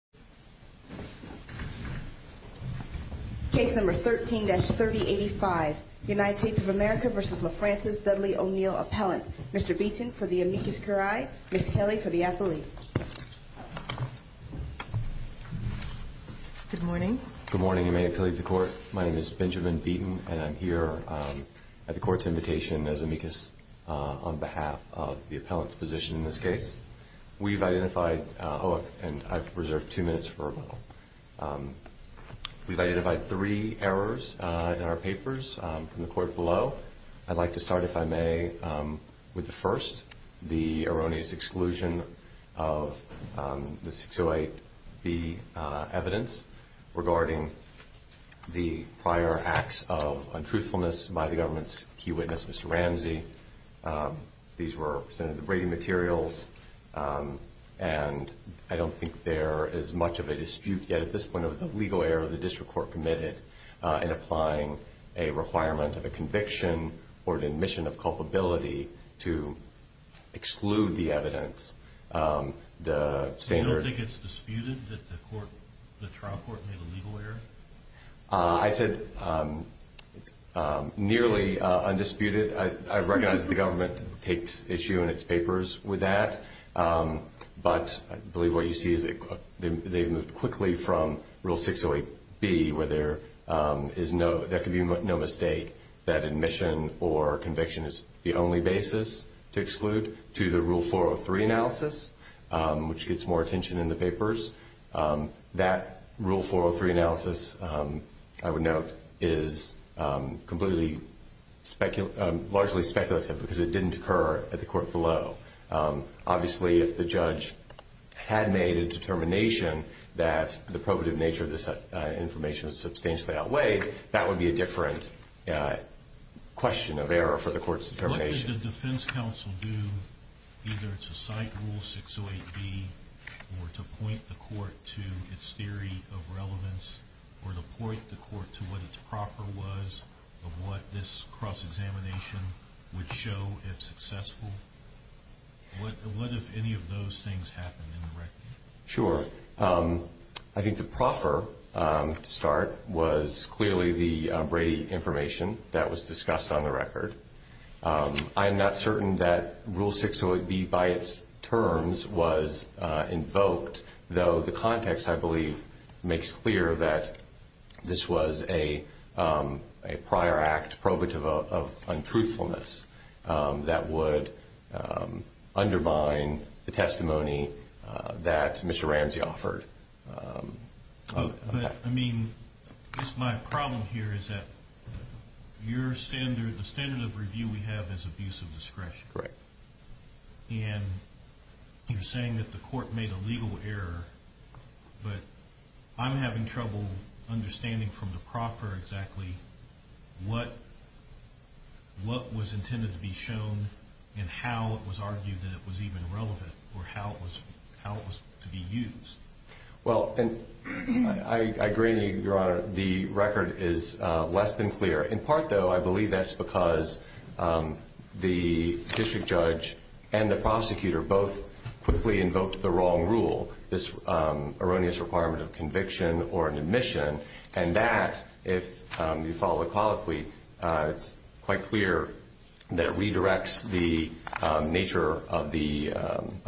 Appellant, Mr. Beaton for the amicus curiae, Ms. Haley for the appellee. Good morning. Good morning, and may it please the Court. My name is Benjamin Beaton, and I'm here at the Court's invitation as amicus on behalf of the appellant's position in this case. We've identified, oh, and I've reserved two names for you, Mr. Beaton, Mr. O'Neal Appellant, and two names for a moment. We've identified three errors in our papers from the Court below. I'd like to start, if I may, with the first, the erroneous exclusion of the 608B evidence regarding the prior acts of untruthfulness by the government's key witness, Mr. Ramsey. These were presented in the braiding materials, and I don't think there is much of a dispute yet at this point of the legal error the district court committed in applying a requirement of a conviction or an admission of culpability to exclude the evidence. The standard... You don't think it's disputed that the trial court made a legal error? I'd say it's nearly undisputed. I recognize the government takes issue in its papers with that, but I believe what you see is that they've moved quickly from Rule 608B, where there could be no mistake that admission or conviction is the only basis to exclude, to the Rule 403 analysis, which gets more attention in the papers. That Rule 403 analysis, I would note, is largely speculative because it didn't occur at the court below. Obviously, if the judge had made a determination that the probative nature of this information substantially outweighed, that would be a different question of error for the court's determination. What did the defense counsel do, either to cite Rule 608B or to point the court to its theory of relevance, or to point the court to what its proper was of what this cross-examination would show if successful? What if any of those things happened in the record? Sure. I think the proper start was clearly the Brady information that was discussed on the record. I am not certain that Rule 608B by its terms was invoked, though the context, I believe, makes clear that this was a prior act probative of untruthfulness that would undermine the testimony that Mr. Ramsey offered. I guess my problem here is that the standard of review we have is abuse of discretion. You're saying that the court made a legal error, but I'm having trouble understanding from the proffer exactly what was intended to be shown and how it was argued that it was even relevant, or how it was to be used. I agree with you, Your Honor. The record is less than clear. In part, though, I believe that's because the district judge and the prosecutor both quickly invoked the wrong rule, this erroneous requirement of conviction or an admission, and that, if you follow the colloquy, it's quite clear that it redirects the nature of the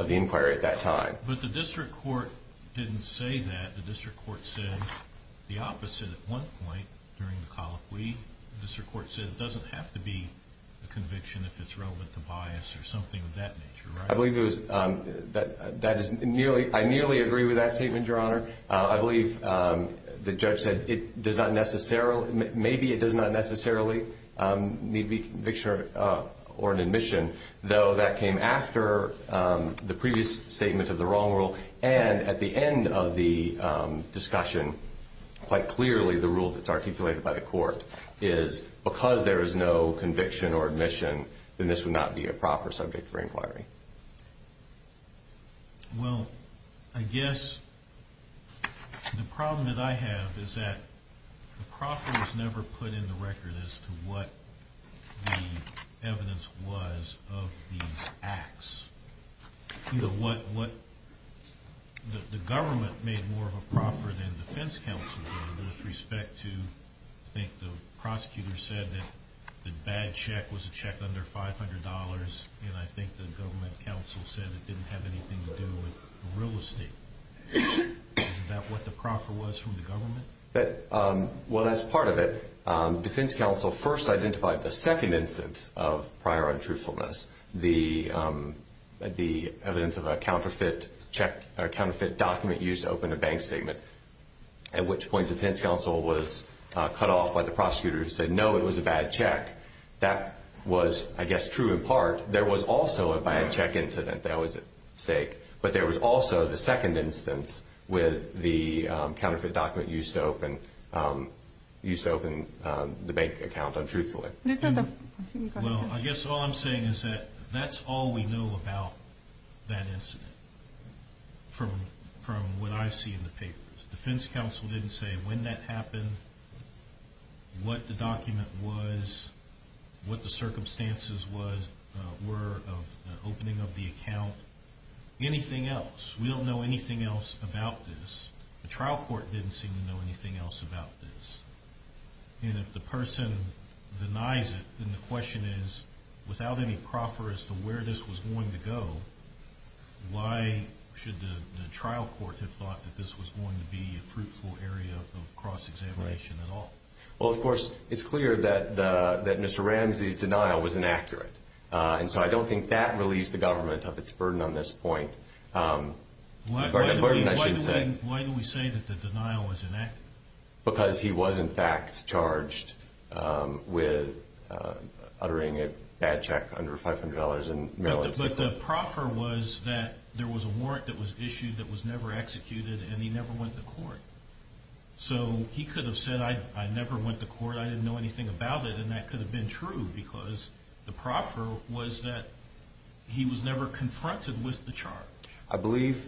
inquiry at that time. But the district court didn't say that. The district court said the opposite at one point during the colloquy. The district court said it doesn't have to be a conviction if it's relevant to bias or something of that nature, right? I believe that is nearly, I nearly agree with that statement, Your Honor. I believe the judge said it does not necessarily, maybe it does not necessarily need to be a conviction or an admission, though that came after the previous statement of the wrong rule. And at the end of the discussion, quite clearly the rule that's articulated by the court is, because there is no conviction or admission, then this would not be a proper subject for inquiry. Well, I guess the problem that I have is that the proffer was never put in the record as to what the evidence was of these acts. You know, what the government made more of a proffer than the defense counsel did with respect to, I think the prosecutor said that the bad check was a check under $500, and I think the government counsel said it didn't have anything to do with real estate. Is that what the proffer was from the government? Well, that's part of it. Defense counsel first identified the second instance of prior untruthfulness, the evidence of a counterfeit check or counterfeit document used to open a bank statement, at which point defense counsel was cut off by the prosecutor who said, no, it was a bad check. That was, I guess, true in part. There was also a bad check incident that was at stake, but there was also the second instance with the counterfeit document used to open the bank account untruthfully. Well, I guess all I'm saying is that that's all we know about that incident from what I see in the papers. Defense counsel didn't say when that happened, what the document was, what the circumstances were of the opening of the account, anything else. We don't know anything else about this. The trial court didn't seem to know anything else about this. And if the person denies it, then the question is, without any proffer as to where this was going to go, why should the trial court have thought that this was going to be a fruitful area of cross-examination at all? Well, of course, it's clear that Mr. Ramsey's denial was inaccurate. And so I don't think that relieves the government of its burden on this point. Why do we say that the denial was inaccurate? Because he was, in fact, charged with uttering a bad check under $500. But the proffer was that there was a warrant that was issued that was never executed, and he never went to court. So he could have said, I never went to court, I didn't know anything about it, and that could have been true because the proffer was that he was never confronted with the charge. I believe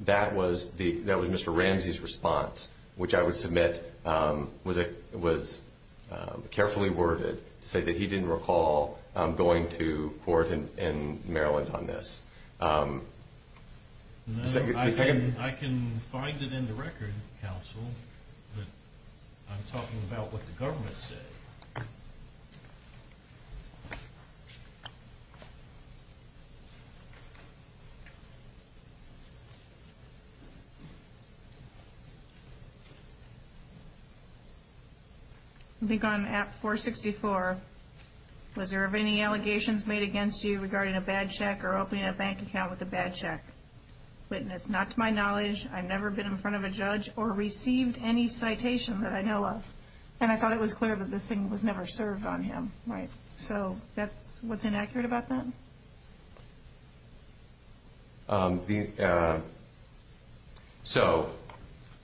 that was Mr. Ramsey's response, which I would submit was carefully worded, to say that he didn't recall going to court in Maryland on this. I can find it in the record, counsel, but I'm talking about what the government said. I think on app 464, was there any allegations made against you regarding a bad check or opening a bank account with a bad check? Witness, not to my knowledge. I've never been in front of a judge or received any citation that I know of. And I thought it was clear that this thing was never served on him, right? So what's inaccurate about that? So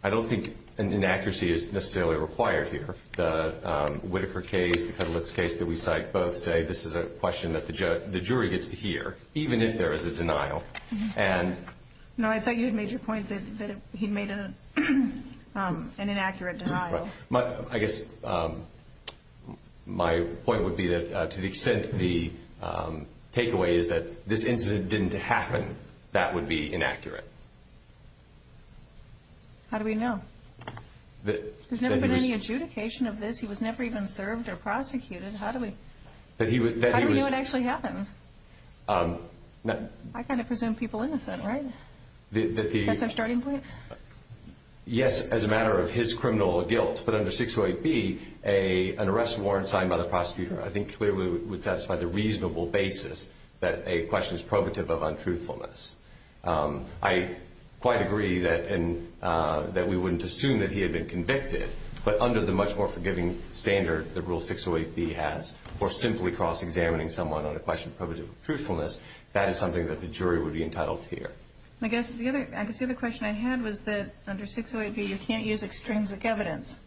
I don't think an inaccuracy is necessarily required here. The Whitaker case, the Kudlitz case that we cite both say this is a question that the jury gets to hear, even if there is a denial. No, I thought you had made your point that he made an inaccurate denial. I guess my point would be that to the extent the takeaway is that this incident didn't happen, that would be inaccurate. How do we know? There's never been any adjudication of this. He was never even served or prosecuted. How do we know it actually happened? I kind of presume people innocent, right? That's our starting point? Yes, as a matter of his criminal guilt. But under 608B, an arrest warrant signed by the prosecutor I think clearly would satisfy the reasonable basis that a question is probative of untruthfulness. I quite agree that we wouldn't assume that he had been convicted, but under the much more forgiving standard that Rule 608B has for simply cross-examining someone on a question probative of truthfulness, that is something that the jury would be entitled to hear. I guess the other question I had was that under 608B you can't use extrinsic evidence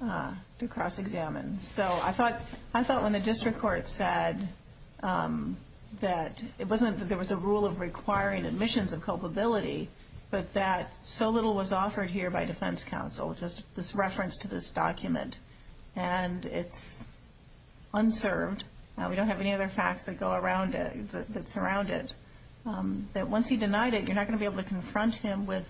to cross-examine. So I thought when the district court said that it wasn't that there was a rule of requiring admissions of culpability, but that so little was offered here by defense counsel, just this reference to this document, and it's unserved. We don't have any other facts that go around it, that surround it. That once he denied it, you're not going to be able to confront him with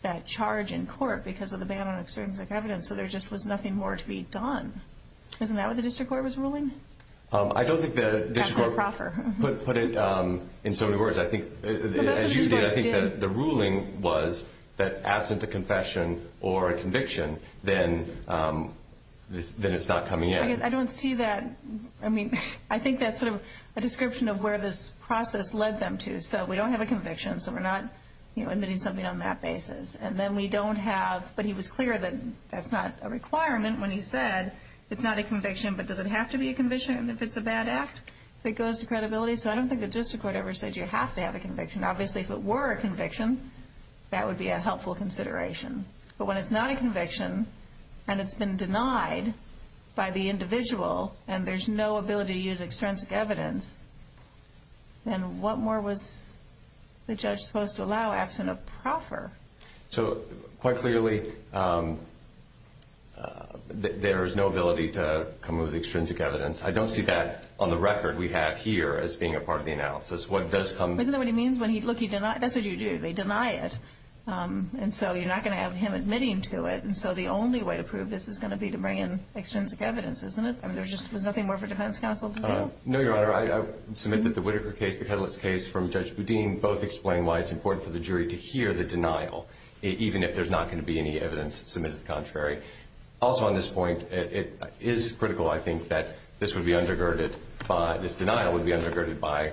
that charge in court because of the ban on extrinsic evidence, so there just was nothing more to be done. Isn't that what the district court was ruling? I don't think the district court put it in so many words. As you did, I think that the ruling was that absent a confession or a conviction, then it's not coming in. I don't see that. I mean, I think that's sort of a description of where this process led them to. So we don't have a conviction, so we're not admitting something on that basis. And then we don't have, but he was clear that that's not a requirement when he said it's not a conviction, but does it have to be a conviction if it's a bad act that goes to credibility? So I don't think the district court ever said you have to have a conviction. Obviously, if it were a conviction, that would be a helpful consideration. But when it's not a conviction and it's been denied by the individual and there's no ability to use extrinsic evidence, then what more was the judge supposed to allow absent a proffer? So quite clearly, there is no ability to come with extrinsic evidence. I don't see that on the record we have here as being a part of the analysis. Isn't that what he means? Look, that's what you do. They deny it, and so you're not going to have him admitting to it. And so the only way to prove this is going to be to bring in extrinsic evidence, isn't it? There's nothing more for defense counsel to do? No, Your Honor. I submit that the Whitaker case, the Ketelitz case from Judge Boudin, both explain why it's important for the jury to hear the denial, even if there's not going to be any evidence submitted contrary. Also on this point, it is critical, I think, that this denial would be undergirded by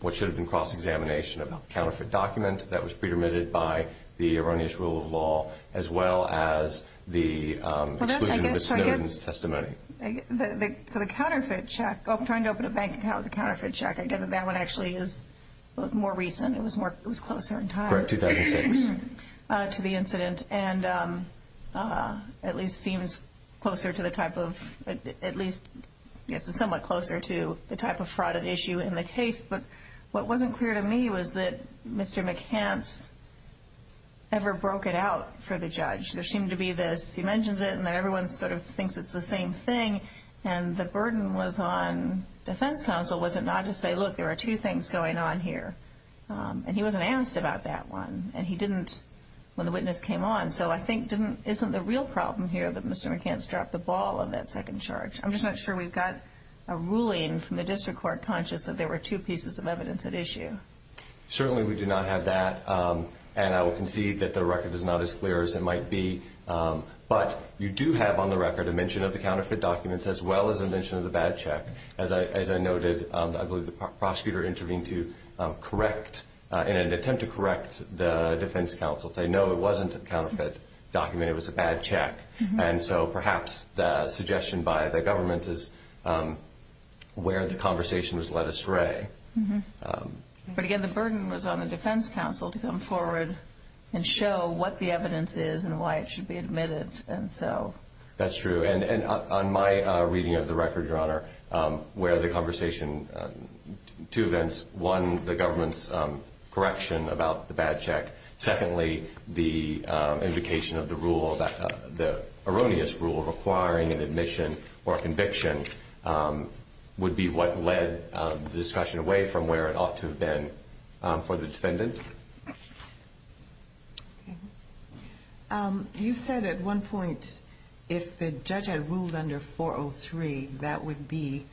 what should have been cross-examination of a counterfeit document that was predetermined by the erroneous rule of law, as well as the exclusion of Snowden's testimony. So the counterfeit check, trying to open a bank account with a counterfeit check, I get that that one actually is more recent. It was closer in time. Correct, 2006. To the incident, and at least seems closer to the type of, somewhat closer to the type of fraud issue in the case. But what wasn't clear to me was that Mr. McCants ever broke it out for the judge. There seemed to be this, he mentions it, and then everyone sort of thinks it's the same thing. And the burden was on defense counsel was it not to say, look, there are two things going on here. And he wasn't asked about that one. And he didn't when the witness came on. So I think isn't the real problem here that Mr. McCants dropped the ball on that second charge. I'm just not sure we've got a ruling from the district court conscious that there were two pieces of evidence at issue. Certainly we do not have that. And I will concede that the record is not as clear as it might be. But you do have on the record a mention of the counterfeit documents, as well as a mention of the bad check. As I noted, I believe the prosecutor intervened to correct, in an attempt to correct the defense counsel to say, no, it wasn't a counterfeit document, it was a bad check. And so perhaps the suggestion by the government is where the conversation was led astray. But again, the burden was on the defense counsel to come forward and show what the evidence is and why it should be admitted. That's true. And on my reading of the record, Your Honor, where the conversation, two events, one, the government's correction about the bad check. Secondly, the invocation of the rule, the erroneous rule, requiring an admission or conviction would be what led the discussion away from where it ought to have been for the defendant. You said at one point, if the judge had ruled under 403, that would be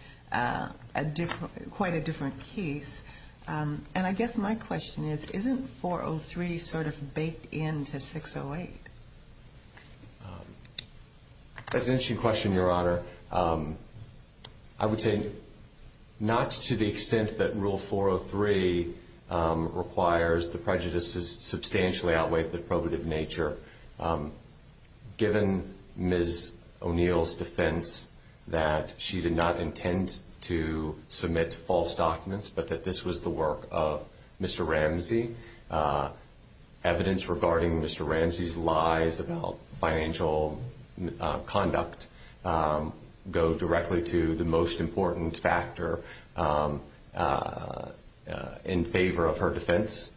quite a different case. And I guess my question is, isn't 403 sort of baked into 608? That's an interesting question, Your Honor. I would say not to the extent that Rule 403 requires the prejudices substantially outweigh the probative nature. Given Ms. O'Neill's defense that she did not intend to submit false documents, but that this was the work of Mr. Ramsey, evidence regarding Mr. Ramsey's lies about financial conduct go directly to the most important factor in favor of her defense.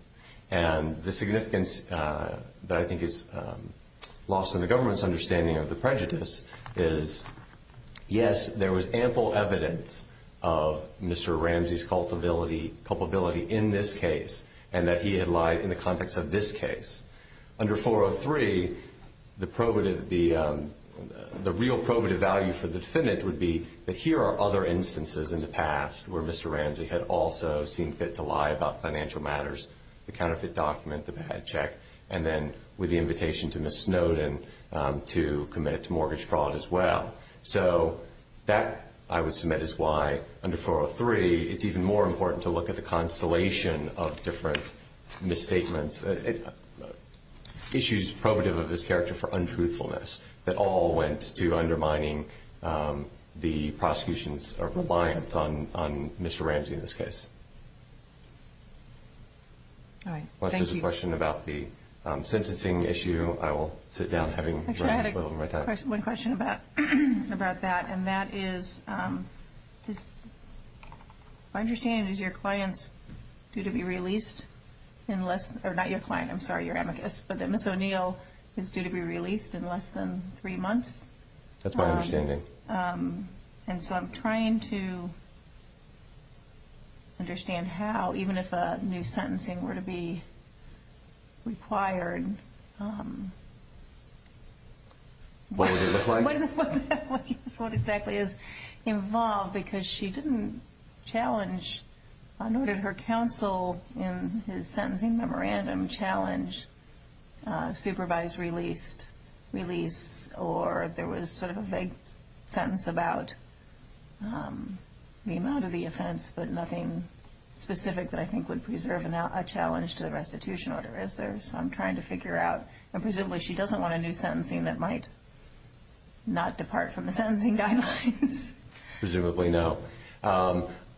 And the significance that I think is lost in the government's understanding of the prejudice is, yes, there was ample evidence of Mr. Ramsey's culpability in this case and that he had lied in the context of this case. Under 403, the real probative value for the defendant would be that here are other instances in the past where Mr. Ramsey had also seen fit to lie about financial matters, the counterfeit document, the bad check, and then with the invitation to Ms. Snowden to commit to mortgage fraud as well. So that, I would submit, is why under 403, it's even more important to look at the constellation of different misstatements, issues probative of his character for untruthfulness that all went to undermining the prosecution's reliance on Mr. Ramsey in this case. All right. Thank you. Unless there's a question about the sentencing issue, I will sit down. Actually, I had one question about that, and that is, my understanding is your client is due to be released in less than, or not your client, I'm sorry, your amicus, but that Ms. O'Neill is due to be released in less than three months. That's my understanding. And so I'm trying to understand how, even if a new sentencing were to be required. What would it look like? What exactly is involved, because she didn't challenge, nor did her counsel in his sentencing memorandum challenge, supervised release, or there was sort of a vague sentence about the amount of the offense, but nothing specific that I think would preserve a challenge to the restitution order, is there? So I'm trying to figure out. Presumably, she doesn't want a new sentencing that might not depart from the sentencing guidelines. Presumably, no.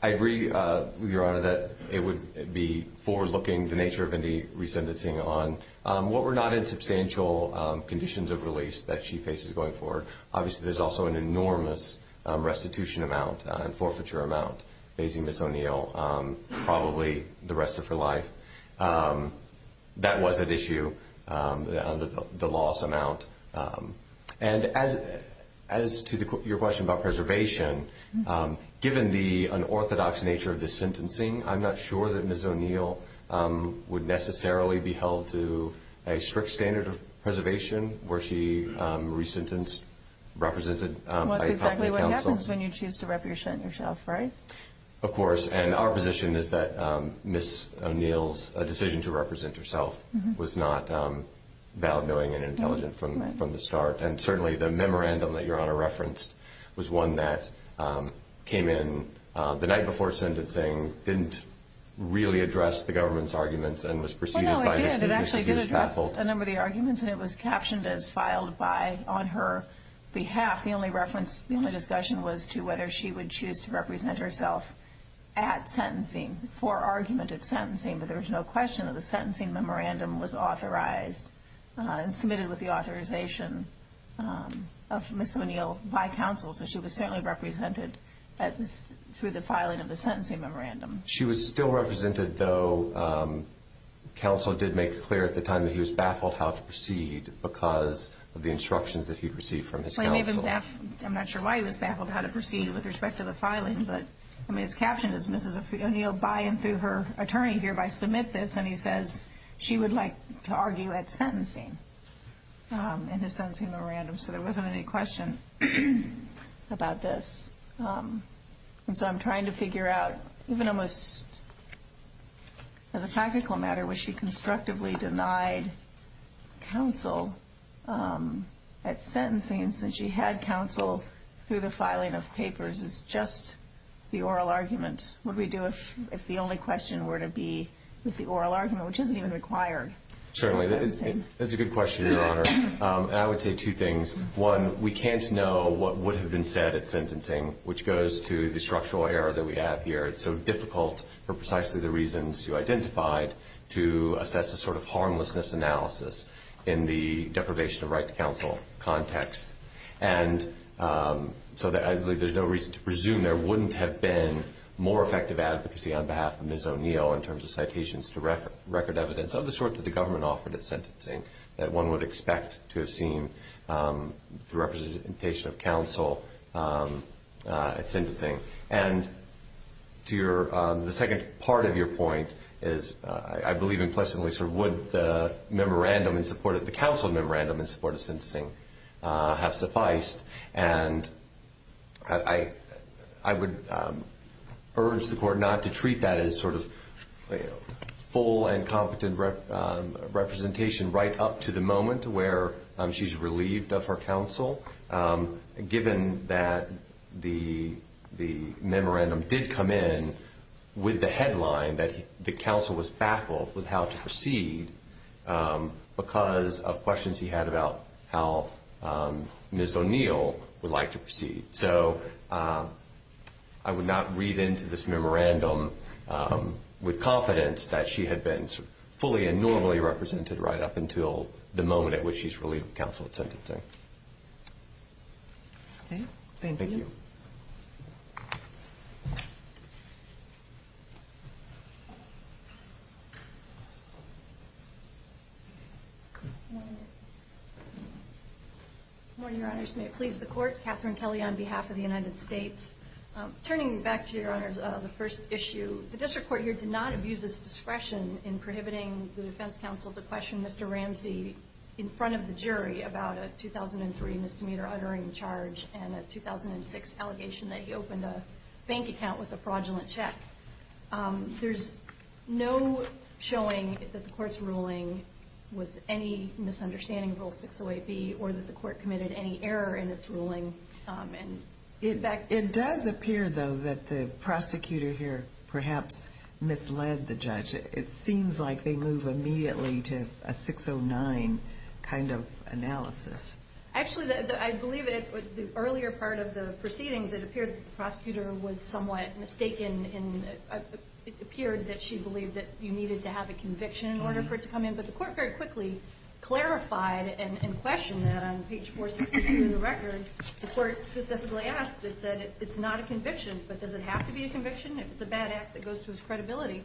I agree, Your Honor, that it would be forward-looking, the nature of any resentencing, on what were not in substantial conditions of release that she faces going forward. Obviously, there's also an enormous restitution amount and forfeiture amount facing Ms. O'Neill, probably the rest of her life. That was at issue, the loss amount. And as to your question about preservation, given the unorthodox nature of this sentencing, I'm not sure that Ms. O'Neill would necessarily be held to a strict standard of preservation were she resentenced, represented by a copy of counsel. Well, that's exactly what happens when you choose to represent yourself, right? Of course, and our position is that Ms. O'Neill's decision to represent herself was not valid, knowing, and intelligent from the start. And certainly, the memorandum that Your Honor referenced was one that came in the night before sentencing, didn't really address the government's arguments and was preceded by Ms. O'Neill's counsel. Well, no, it did. It actually did address a number of the arguments, and it was captioned as filed on her behalf. The only discussion was to whether she would choose to represent herself at sentencing, for argument at sentencing, but there was no question that the sentencing memorandum was authorized and submitted with the authorization of Ms. O'Neill by counsel, so she was certainly represented through the filing of the sentencing memorandum. She was still represented, though counsel did make it clear at the time that he was baffled how to proceed because of the instructions that he had received from his counsel. I'm not sure why he was baffled how to proceed with respect to the filing, but his caption is Ms. O'Neill, by and through her attorney, hereby submit this, and he says she would like to argue at sentencing in his sentencing memorandum, so there wasn't any question about this. And so I'm trying to figure out, even almost as a practical matter, was she constructively denied counsel at sentencing, and since she had counsel through the filing of papers, is just the oral argument, what would we do if the only question were to be with the oral argument, which isn't even required? Certainly. That's a good question, Your Honor, and I would say two things. One, we can't know what would have been said at sentencing, which goes to the structural error that we have here. It's so difficult, for precisely the reasons you identified, to assess a sort of harmlessness analysis in the deprivation of right to counsel context. And so I believe there's no reason to presume there wouldn't have been more effective advocacy on behalf of Ms. O'Neill in terms of citations to record evidence of the sort that the government offered at sentencing that one would expect to have seen through representation of counsel at sentencing. And the second part of your point is, I believe implicitly, would the council memorandum in support of sentencing have sufficed? And I would urge the Court not to treat that as sort of full and competent representation right up to the moment where she's relieved of her counsel, given that the memorandum did come in with the headline that the council was baffled with how to proceed because of questions he had about how Ms. O'Neill would like to proceed. So I would not read into this memorandum with confidence that she had been fully and normally represented right up until the moment at which she's relieved of counsel at sentencing. Thank you. Good morning, Your Honors. May it please the Court, Kathryn Kelly on behalf of the United States. Turning back to Your Honors, the first issue, the district court here did not abuse its discretion in prohibiting the defense counsel to question Mr. Ramsey in front of the jury about a 2003 misdemeanor uttering charge and a 2006 allegation that he opened a bank account with a fraudulent check. There's no showing that the Court's ruling was any misunderstanding of Rule 608B or that the Court committed any error in its ruling. It does appear, though, that the prosecutor here perhaps misled the judge. It seems like they move immediately to a 609 kind of analysis. Actually, I believe that the earlier part of the proceedings, it appeared that the prosecutor was somewhat mistaken and it appeared that she believed that you needed to have a conviction in order for it to come in. But the Court very quickly clarified and questioned that on page 462 of the record. The Court specifically asked. It said it's not a conviction, but does it have to be a conviction if it's a bad act that goes to its credibility?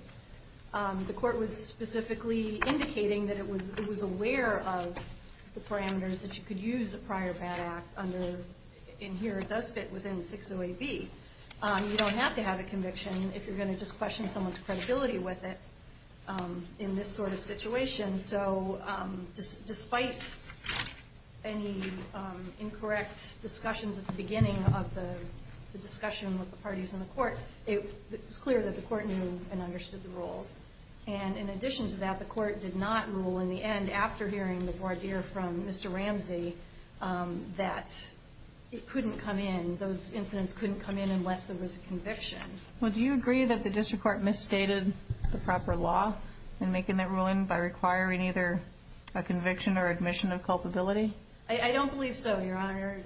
The Court was specifically indicating that it was aware of the parameters that you could use a prior bad act under. And here it does fit within 608B. You don't have to have a conviction if you're going to just question someone's credibility with it. In this sort of situation, so despite any incorrect discussions at the beginning of the discussion with the parties in the Court, it was clear that the Court knew and understood the rules. And in addition to that, the Court did not rule in the end, after hearing the voir dire from Mr. Ramsey, that it couldn't come in, those incidents couldn't come in unless there was a conviction. Well, do you agree that the District Court misstated the proper law in making that ruling by requiring either a conviction or admission of culpability? I don't believe so, Your Honor.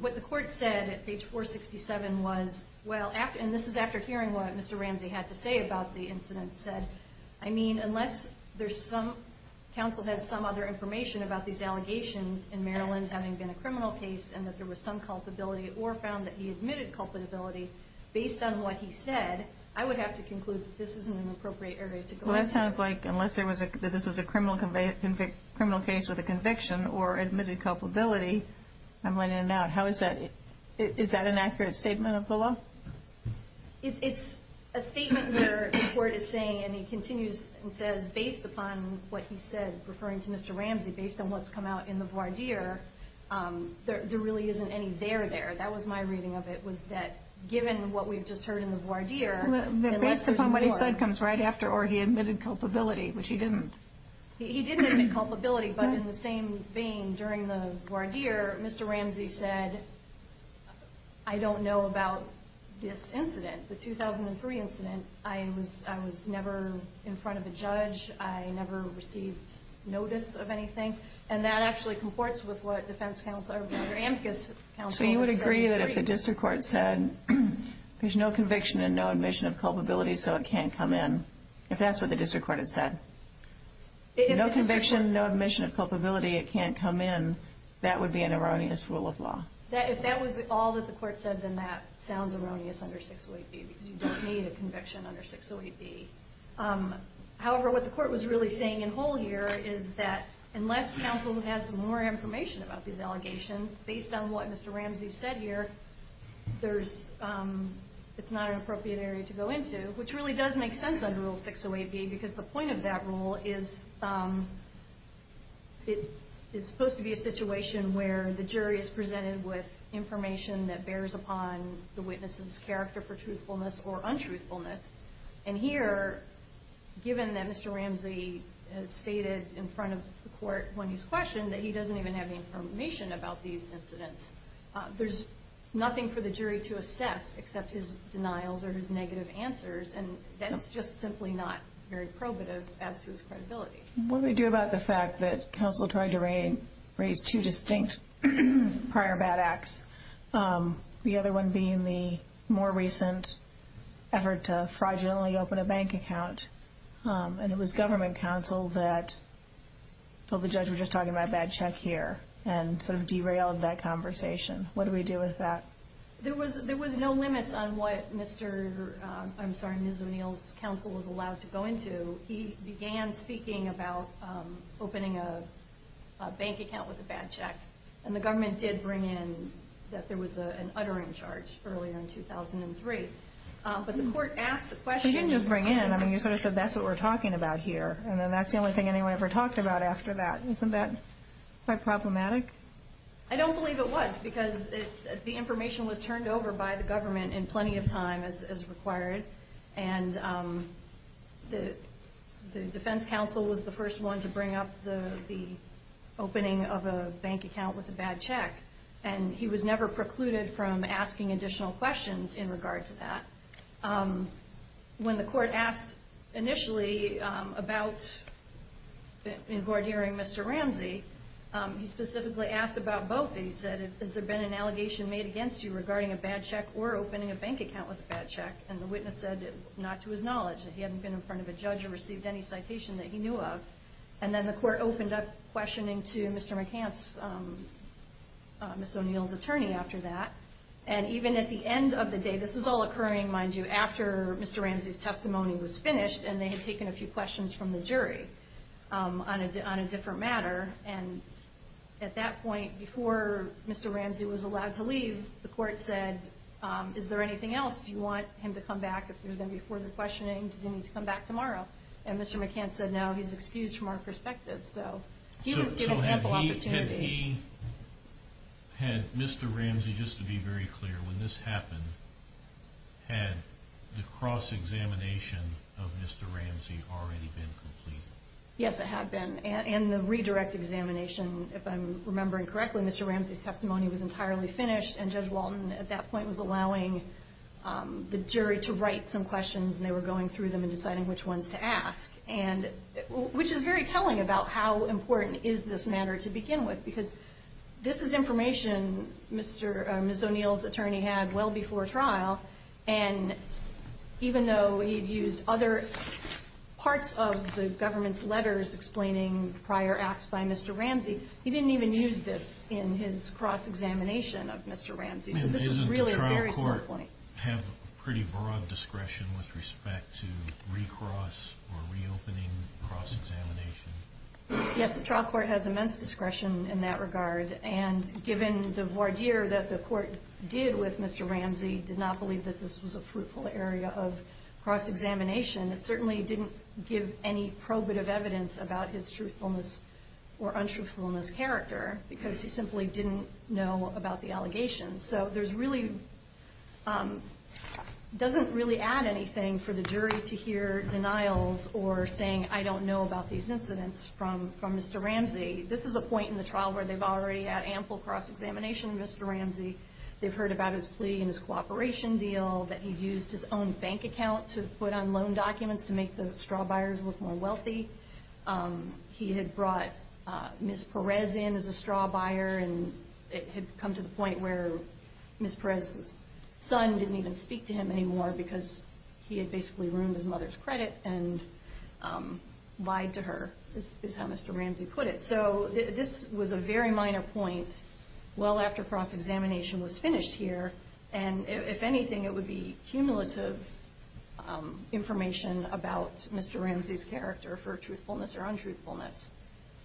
What the Court said at page 467 was, well, and this is after hearing what Mr. Ramsey had to say about the incidents, said, I mean, unless there's some, counsel has some other information about these allegations in Maryland having been a criminal case and that there was some culpability or found that he admitted culpability based on what he said, I would have to conclude that this isn't an appropriate area to go into. Well, that sounds like, unless this was a criminal case with a conviction or admitted culpability, I'm letting it out. How is that, is that an accurate statement of the law? It's a statement where the Court is saying, and he continues and says, based upon what he said, referring to Mr. Ramsey, based on what's come out in the voir dire, there really isn't any there there. That was my reading of it, was that given what we've just heard in the voir dire, unless there's more. Based upon what he said comes right after, or he admitted culpability, which he didn't. He didn't admit culpability, but in the same vein, during the voir dire, Mr. Ramsey said, I don't know about this incident, the 2003 incident. I was never in front of a judge. I never received notice of anything. And that actually comports with what defense counsel, or Amicus counsel said. So you would agree that if the district court said, there's no conviction and no admission of culpability, so it can't come in, if that's what the district court had said. No conviction, no admission of culpability, it can't come in, that would be an erroneous rule of law. If that was all that the court said, then that sounds erroneous under 608B, because you don't need a conviction under 608B. However, what the court was really saying in whole here is that, unless counsel has some more information about these allegations, based on what Mr. Ramsey said here, it's not an appropriate area to go into, which really does make sense under Rule 608B, because the point of that rule is, it's supposed to be a situation where the jury is presented with information that bears upon the witness's character for truthfulness or untruthfulness. And here, given that Mr. Ramsey has stated in front of the court when he's questioned, that he doesn't even have any information about these incidents, there's nothing for the jury to assess except his denials or his negative answers, and that's just simply not very probative as to his credibility. What do we do about the fact that counsel tried to raise two distinct prior bad acts, the other one being the more recent effort to fraudulently open a bank account, and it was government counsel that told the judge, we're just talking about a bad check here, and sort of derailed that conversation. What do we do with that? There was no limits on what Mr. – I'm sorry, Ms. O'Neill's counsel was allowed to go into. He began speaking about opening a bank account with a bad check, and the government did bring in that there was an uttering charge earlier in 2003. But the court asked the question. You didn't just bring in. I mean, you sort of said, that's what we're talking about here, and then that's the only thing anyone ever talked about after that. Isn't that quite problematic? I don't believe it was because the information was turned over by the government in plenty of time as required, and the defense counsel was the first one to bring up the opening of a bank account with a bad check, and he was never precluded from asking additional questions in regard to that. When the court asked initially about invardering Mr. Ramsey, he specifically asked about both. He said, has there been an allegation made against you regarding a bad check or opening a bank account with a bad check, and the witness said not to his knowledge, that he hadn't been in front of a judge or received any citation that he knew of. And then the court opened up questioning to Mr. McCance, Ms. O'Neill's attorney, after that. And even at the end of the day, this is all occurring, mind you, after Mr. Ramsey's testimony was finished, and they had taken a few questions from the jury on a different matter. And at that point, before Mr. Ramsey was allowed to leave, the court said, is there anything else? Do you want him to come back if there's going to be further questioning? Does he need to come back tomorrow? And Mr. McCance said, no, he's excused from our perspective. So he was given ample opportunity. So had he, had Mr. Ramsey, just to be very clear, when this happened, had the cross-examination of Mr. Ramsey already been completed? Yes, it had been. And the redirect examination, if I'm remembering correctly, Mr. Ramsey's testimony was entirely finished, and Judge Walton at that point was allowing the jury to write some questions, and they were going through them and deciding which ones to ask, which is very telling about how important is this matter to begin with, because this is information Ms. O'Neill's attorney had well before trial. And even though he had used other parts of the government's letters explaining prior acts by Mr. Ramsey, he didn't even use this in his cross-examination of Mr. Ramsey. So this is really a very simple point. And doesn't the trial court have pretty broad discretion with respect to recross or reopening cross-examination? Yes, the trial court has immense discretion in that regard. And given the voir dire that the court did with Mr. Ramsey, did not believe that this was a fruitful area of cross-examination, it certainly didn't give any probative evidence about his truthfulness or untruthfulness character, because he simply didn't know about the allegations. So it doesn't really add anything for the jury to hear denials or saying, I don't know about these incidents from Mr. Ramsey. This is a point in the trial where they've already had ample cross-examination with Mr. Ramsey. They've heard about his plea and his cooperation deal, that he used his own bank account to put on loan documents to make the straw buyers look more wealthy. He had brought Ms. Perez in as a straw buyer, and it had come to the point where Ms. Perez's son didn't even speak to him anymore because he had basically ruined his mother's credit and lied to her, is how Mr. Ramsey put it. So this was a very minor point well after cross-examination was finished here, and if anything it would be cumulative information about Mr. Ramsey's character for truthfulness or untruthfulness.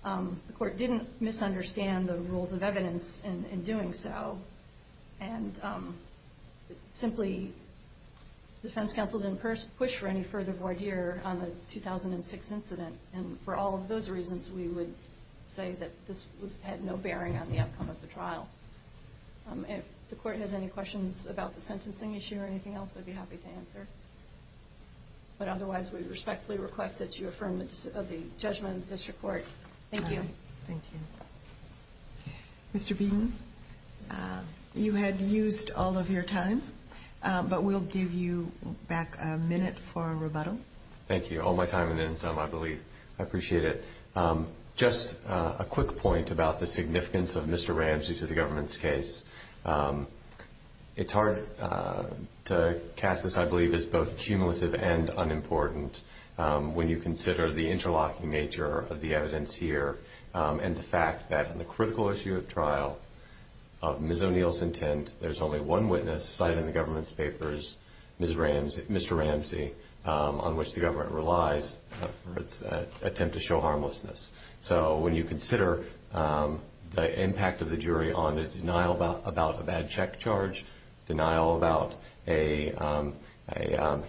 The court didn't misunderstand the rules of evidence in doing so, and simply the defense counsel didn't push for any further voir dire on the 2006 incident, and for all of those reasons we would say that this had no bearing on the outcome of the trial. If the court has any questions about the sentencing issue or anything else, I'd be happy to answer. But otherwise we respectfully request that you affirm the judgment of the district court. Thank you. Thank you. Mr. Beaton, you had used all of your time, but we'll give you back a minute for a rebuttal. Thank you. All my time and then some, I believe. I appreciate it. Just a quick point about the significance of Mr. Ramsey to the government's case. It's hard to cast this, I believe, as both cumulative and unimportant when you consider the interlocking nature of the evidence here and the fact that in the critical issue of trial of Ms. O'Neill's intent, there's only one witness cited in the government's papers, Mr. Ramsey, on which the government relies for its attempt to show harmlessness. So when you consider the impact of the jury on the denial about a bad check charge, denial about a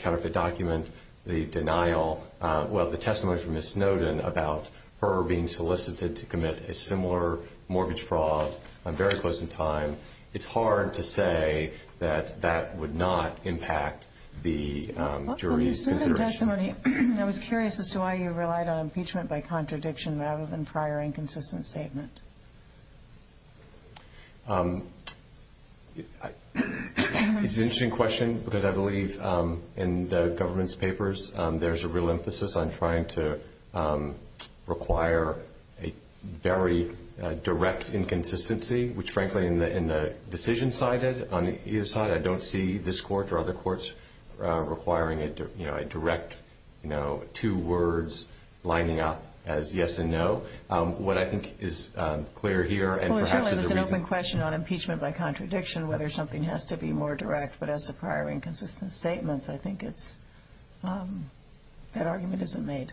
counterfeit document, the denial, well, the testimony from Ms. Snowden about her being solicited to commit a similar mortgage fraud very close in time, it's hard to say that that would not impact the jury's consideration. In the testimony, I was curious as to why you relied on impeachment by contradiction rather than prior inconsistent statement. It's an interesting question because I believe in the government's papers, there's a real emphasis on trying to require a very direct inconsistency, which, frankly, in the decision cited on either side, I don't see this court or other courts requiring a direct two words lining up as yes and no. What I think is clear here and perhaps is the reason— Well, generally, there's an open question on impeachment by contradiction, whether something has to be more direct. But as to prior inconsistent statements, I think that argument isn't made.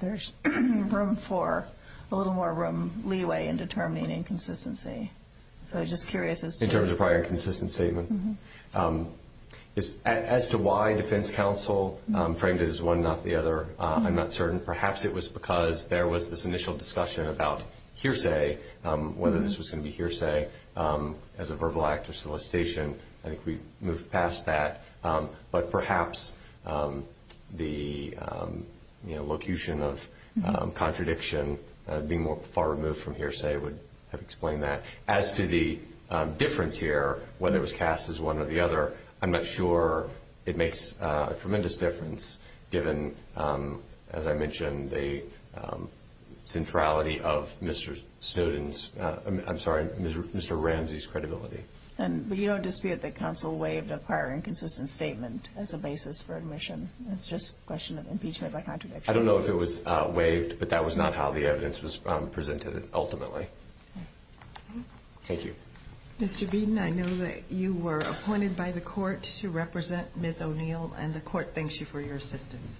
There's room for a little more room, leeway in determining inconsistency. So I'm just curious as to— In terms of prior inconsistent statement. As to why defense counsel framed it as one, not the other, I'm not certain. Perhaps it was because there was this initial discussion about hearsay, whether this was going to be hearsay as a verbal act of solicitation. I think we've moved past that. But perhaps the locution of contradiction being far removed from hearsay would have explained that. As to the difference here, whether it was cast as one or the other, I'm not sure it makes a tremendous difference given, as I mentioned, the centrality of Mr. Snowden's—I'm sorry, Mr. Ramsey's credibility. But you don't dispute that counsel waived a prior inconsistent statement as a basis for admission. It's just a question of impeachment by contradiction. I don't know if it was waived, but that was not how the evidence was presented ultimately. Thank you. Mr. Beden, I know that you were appointed by the court to represent Ms. O'Neill, and the court thanks you for your assistance.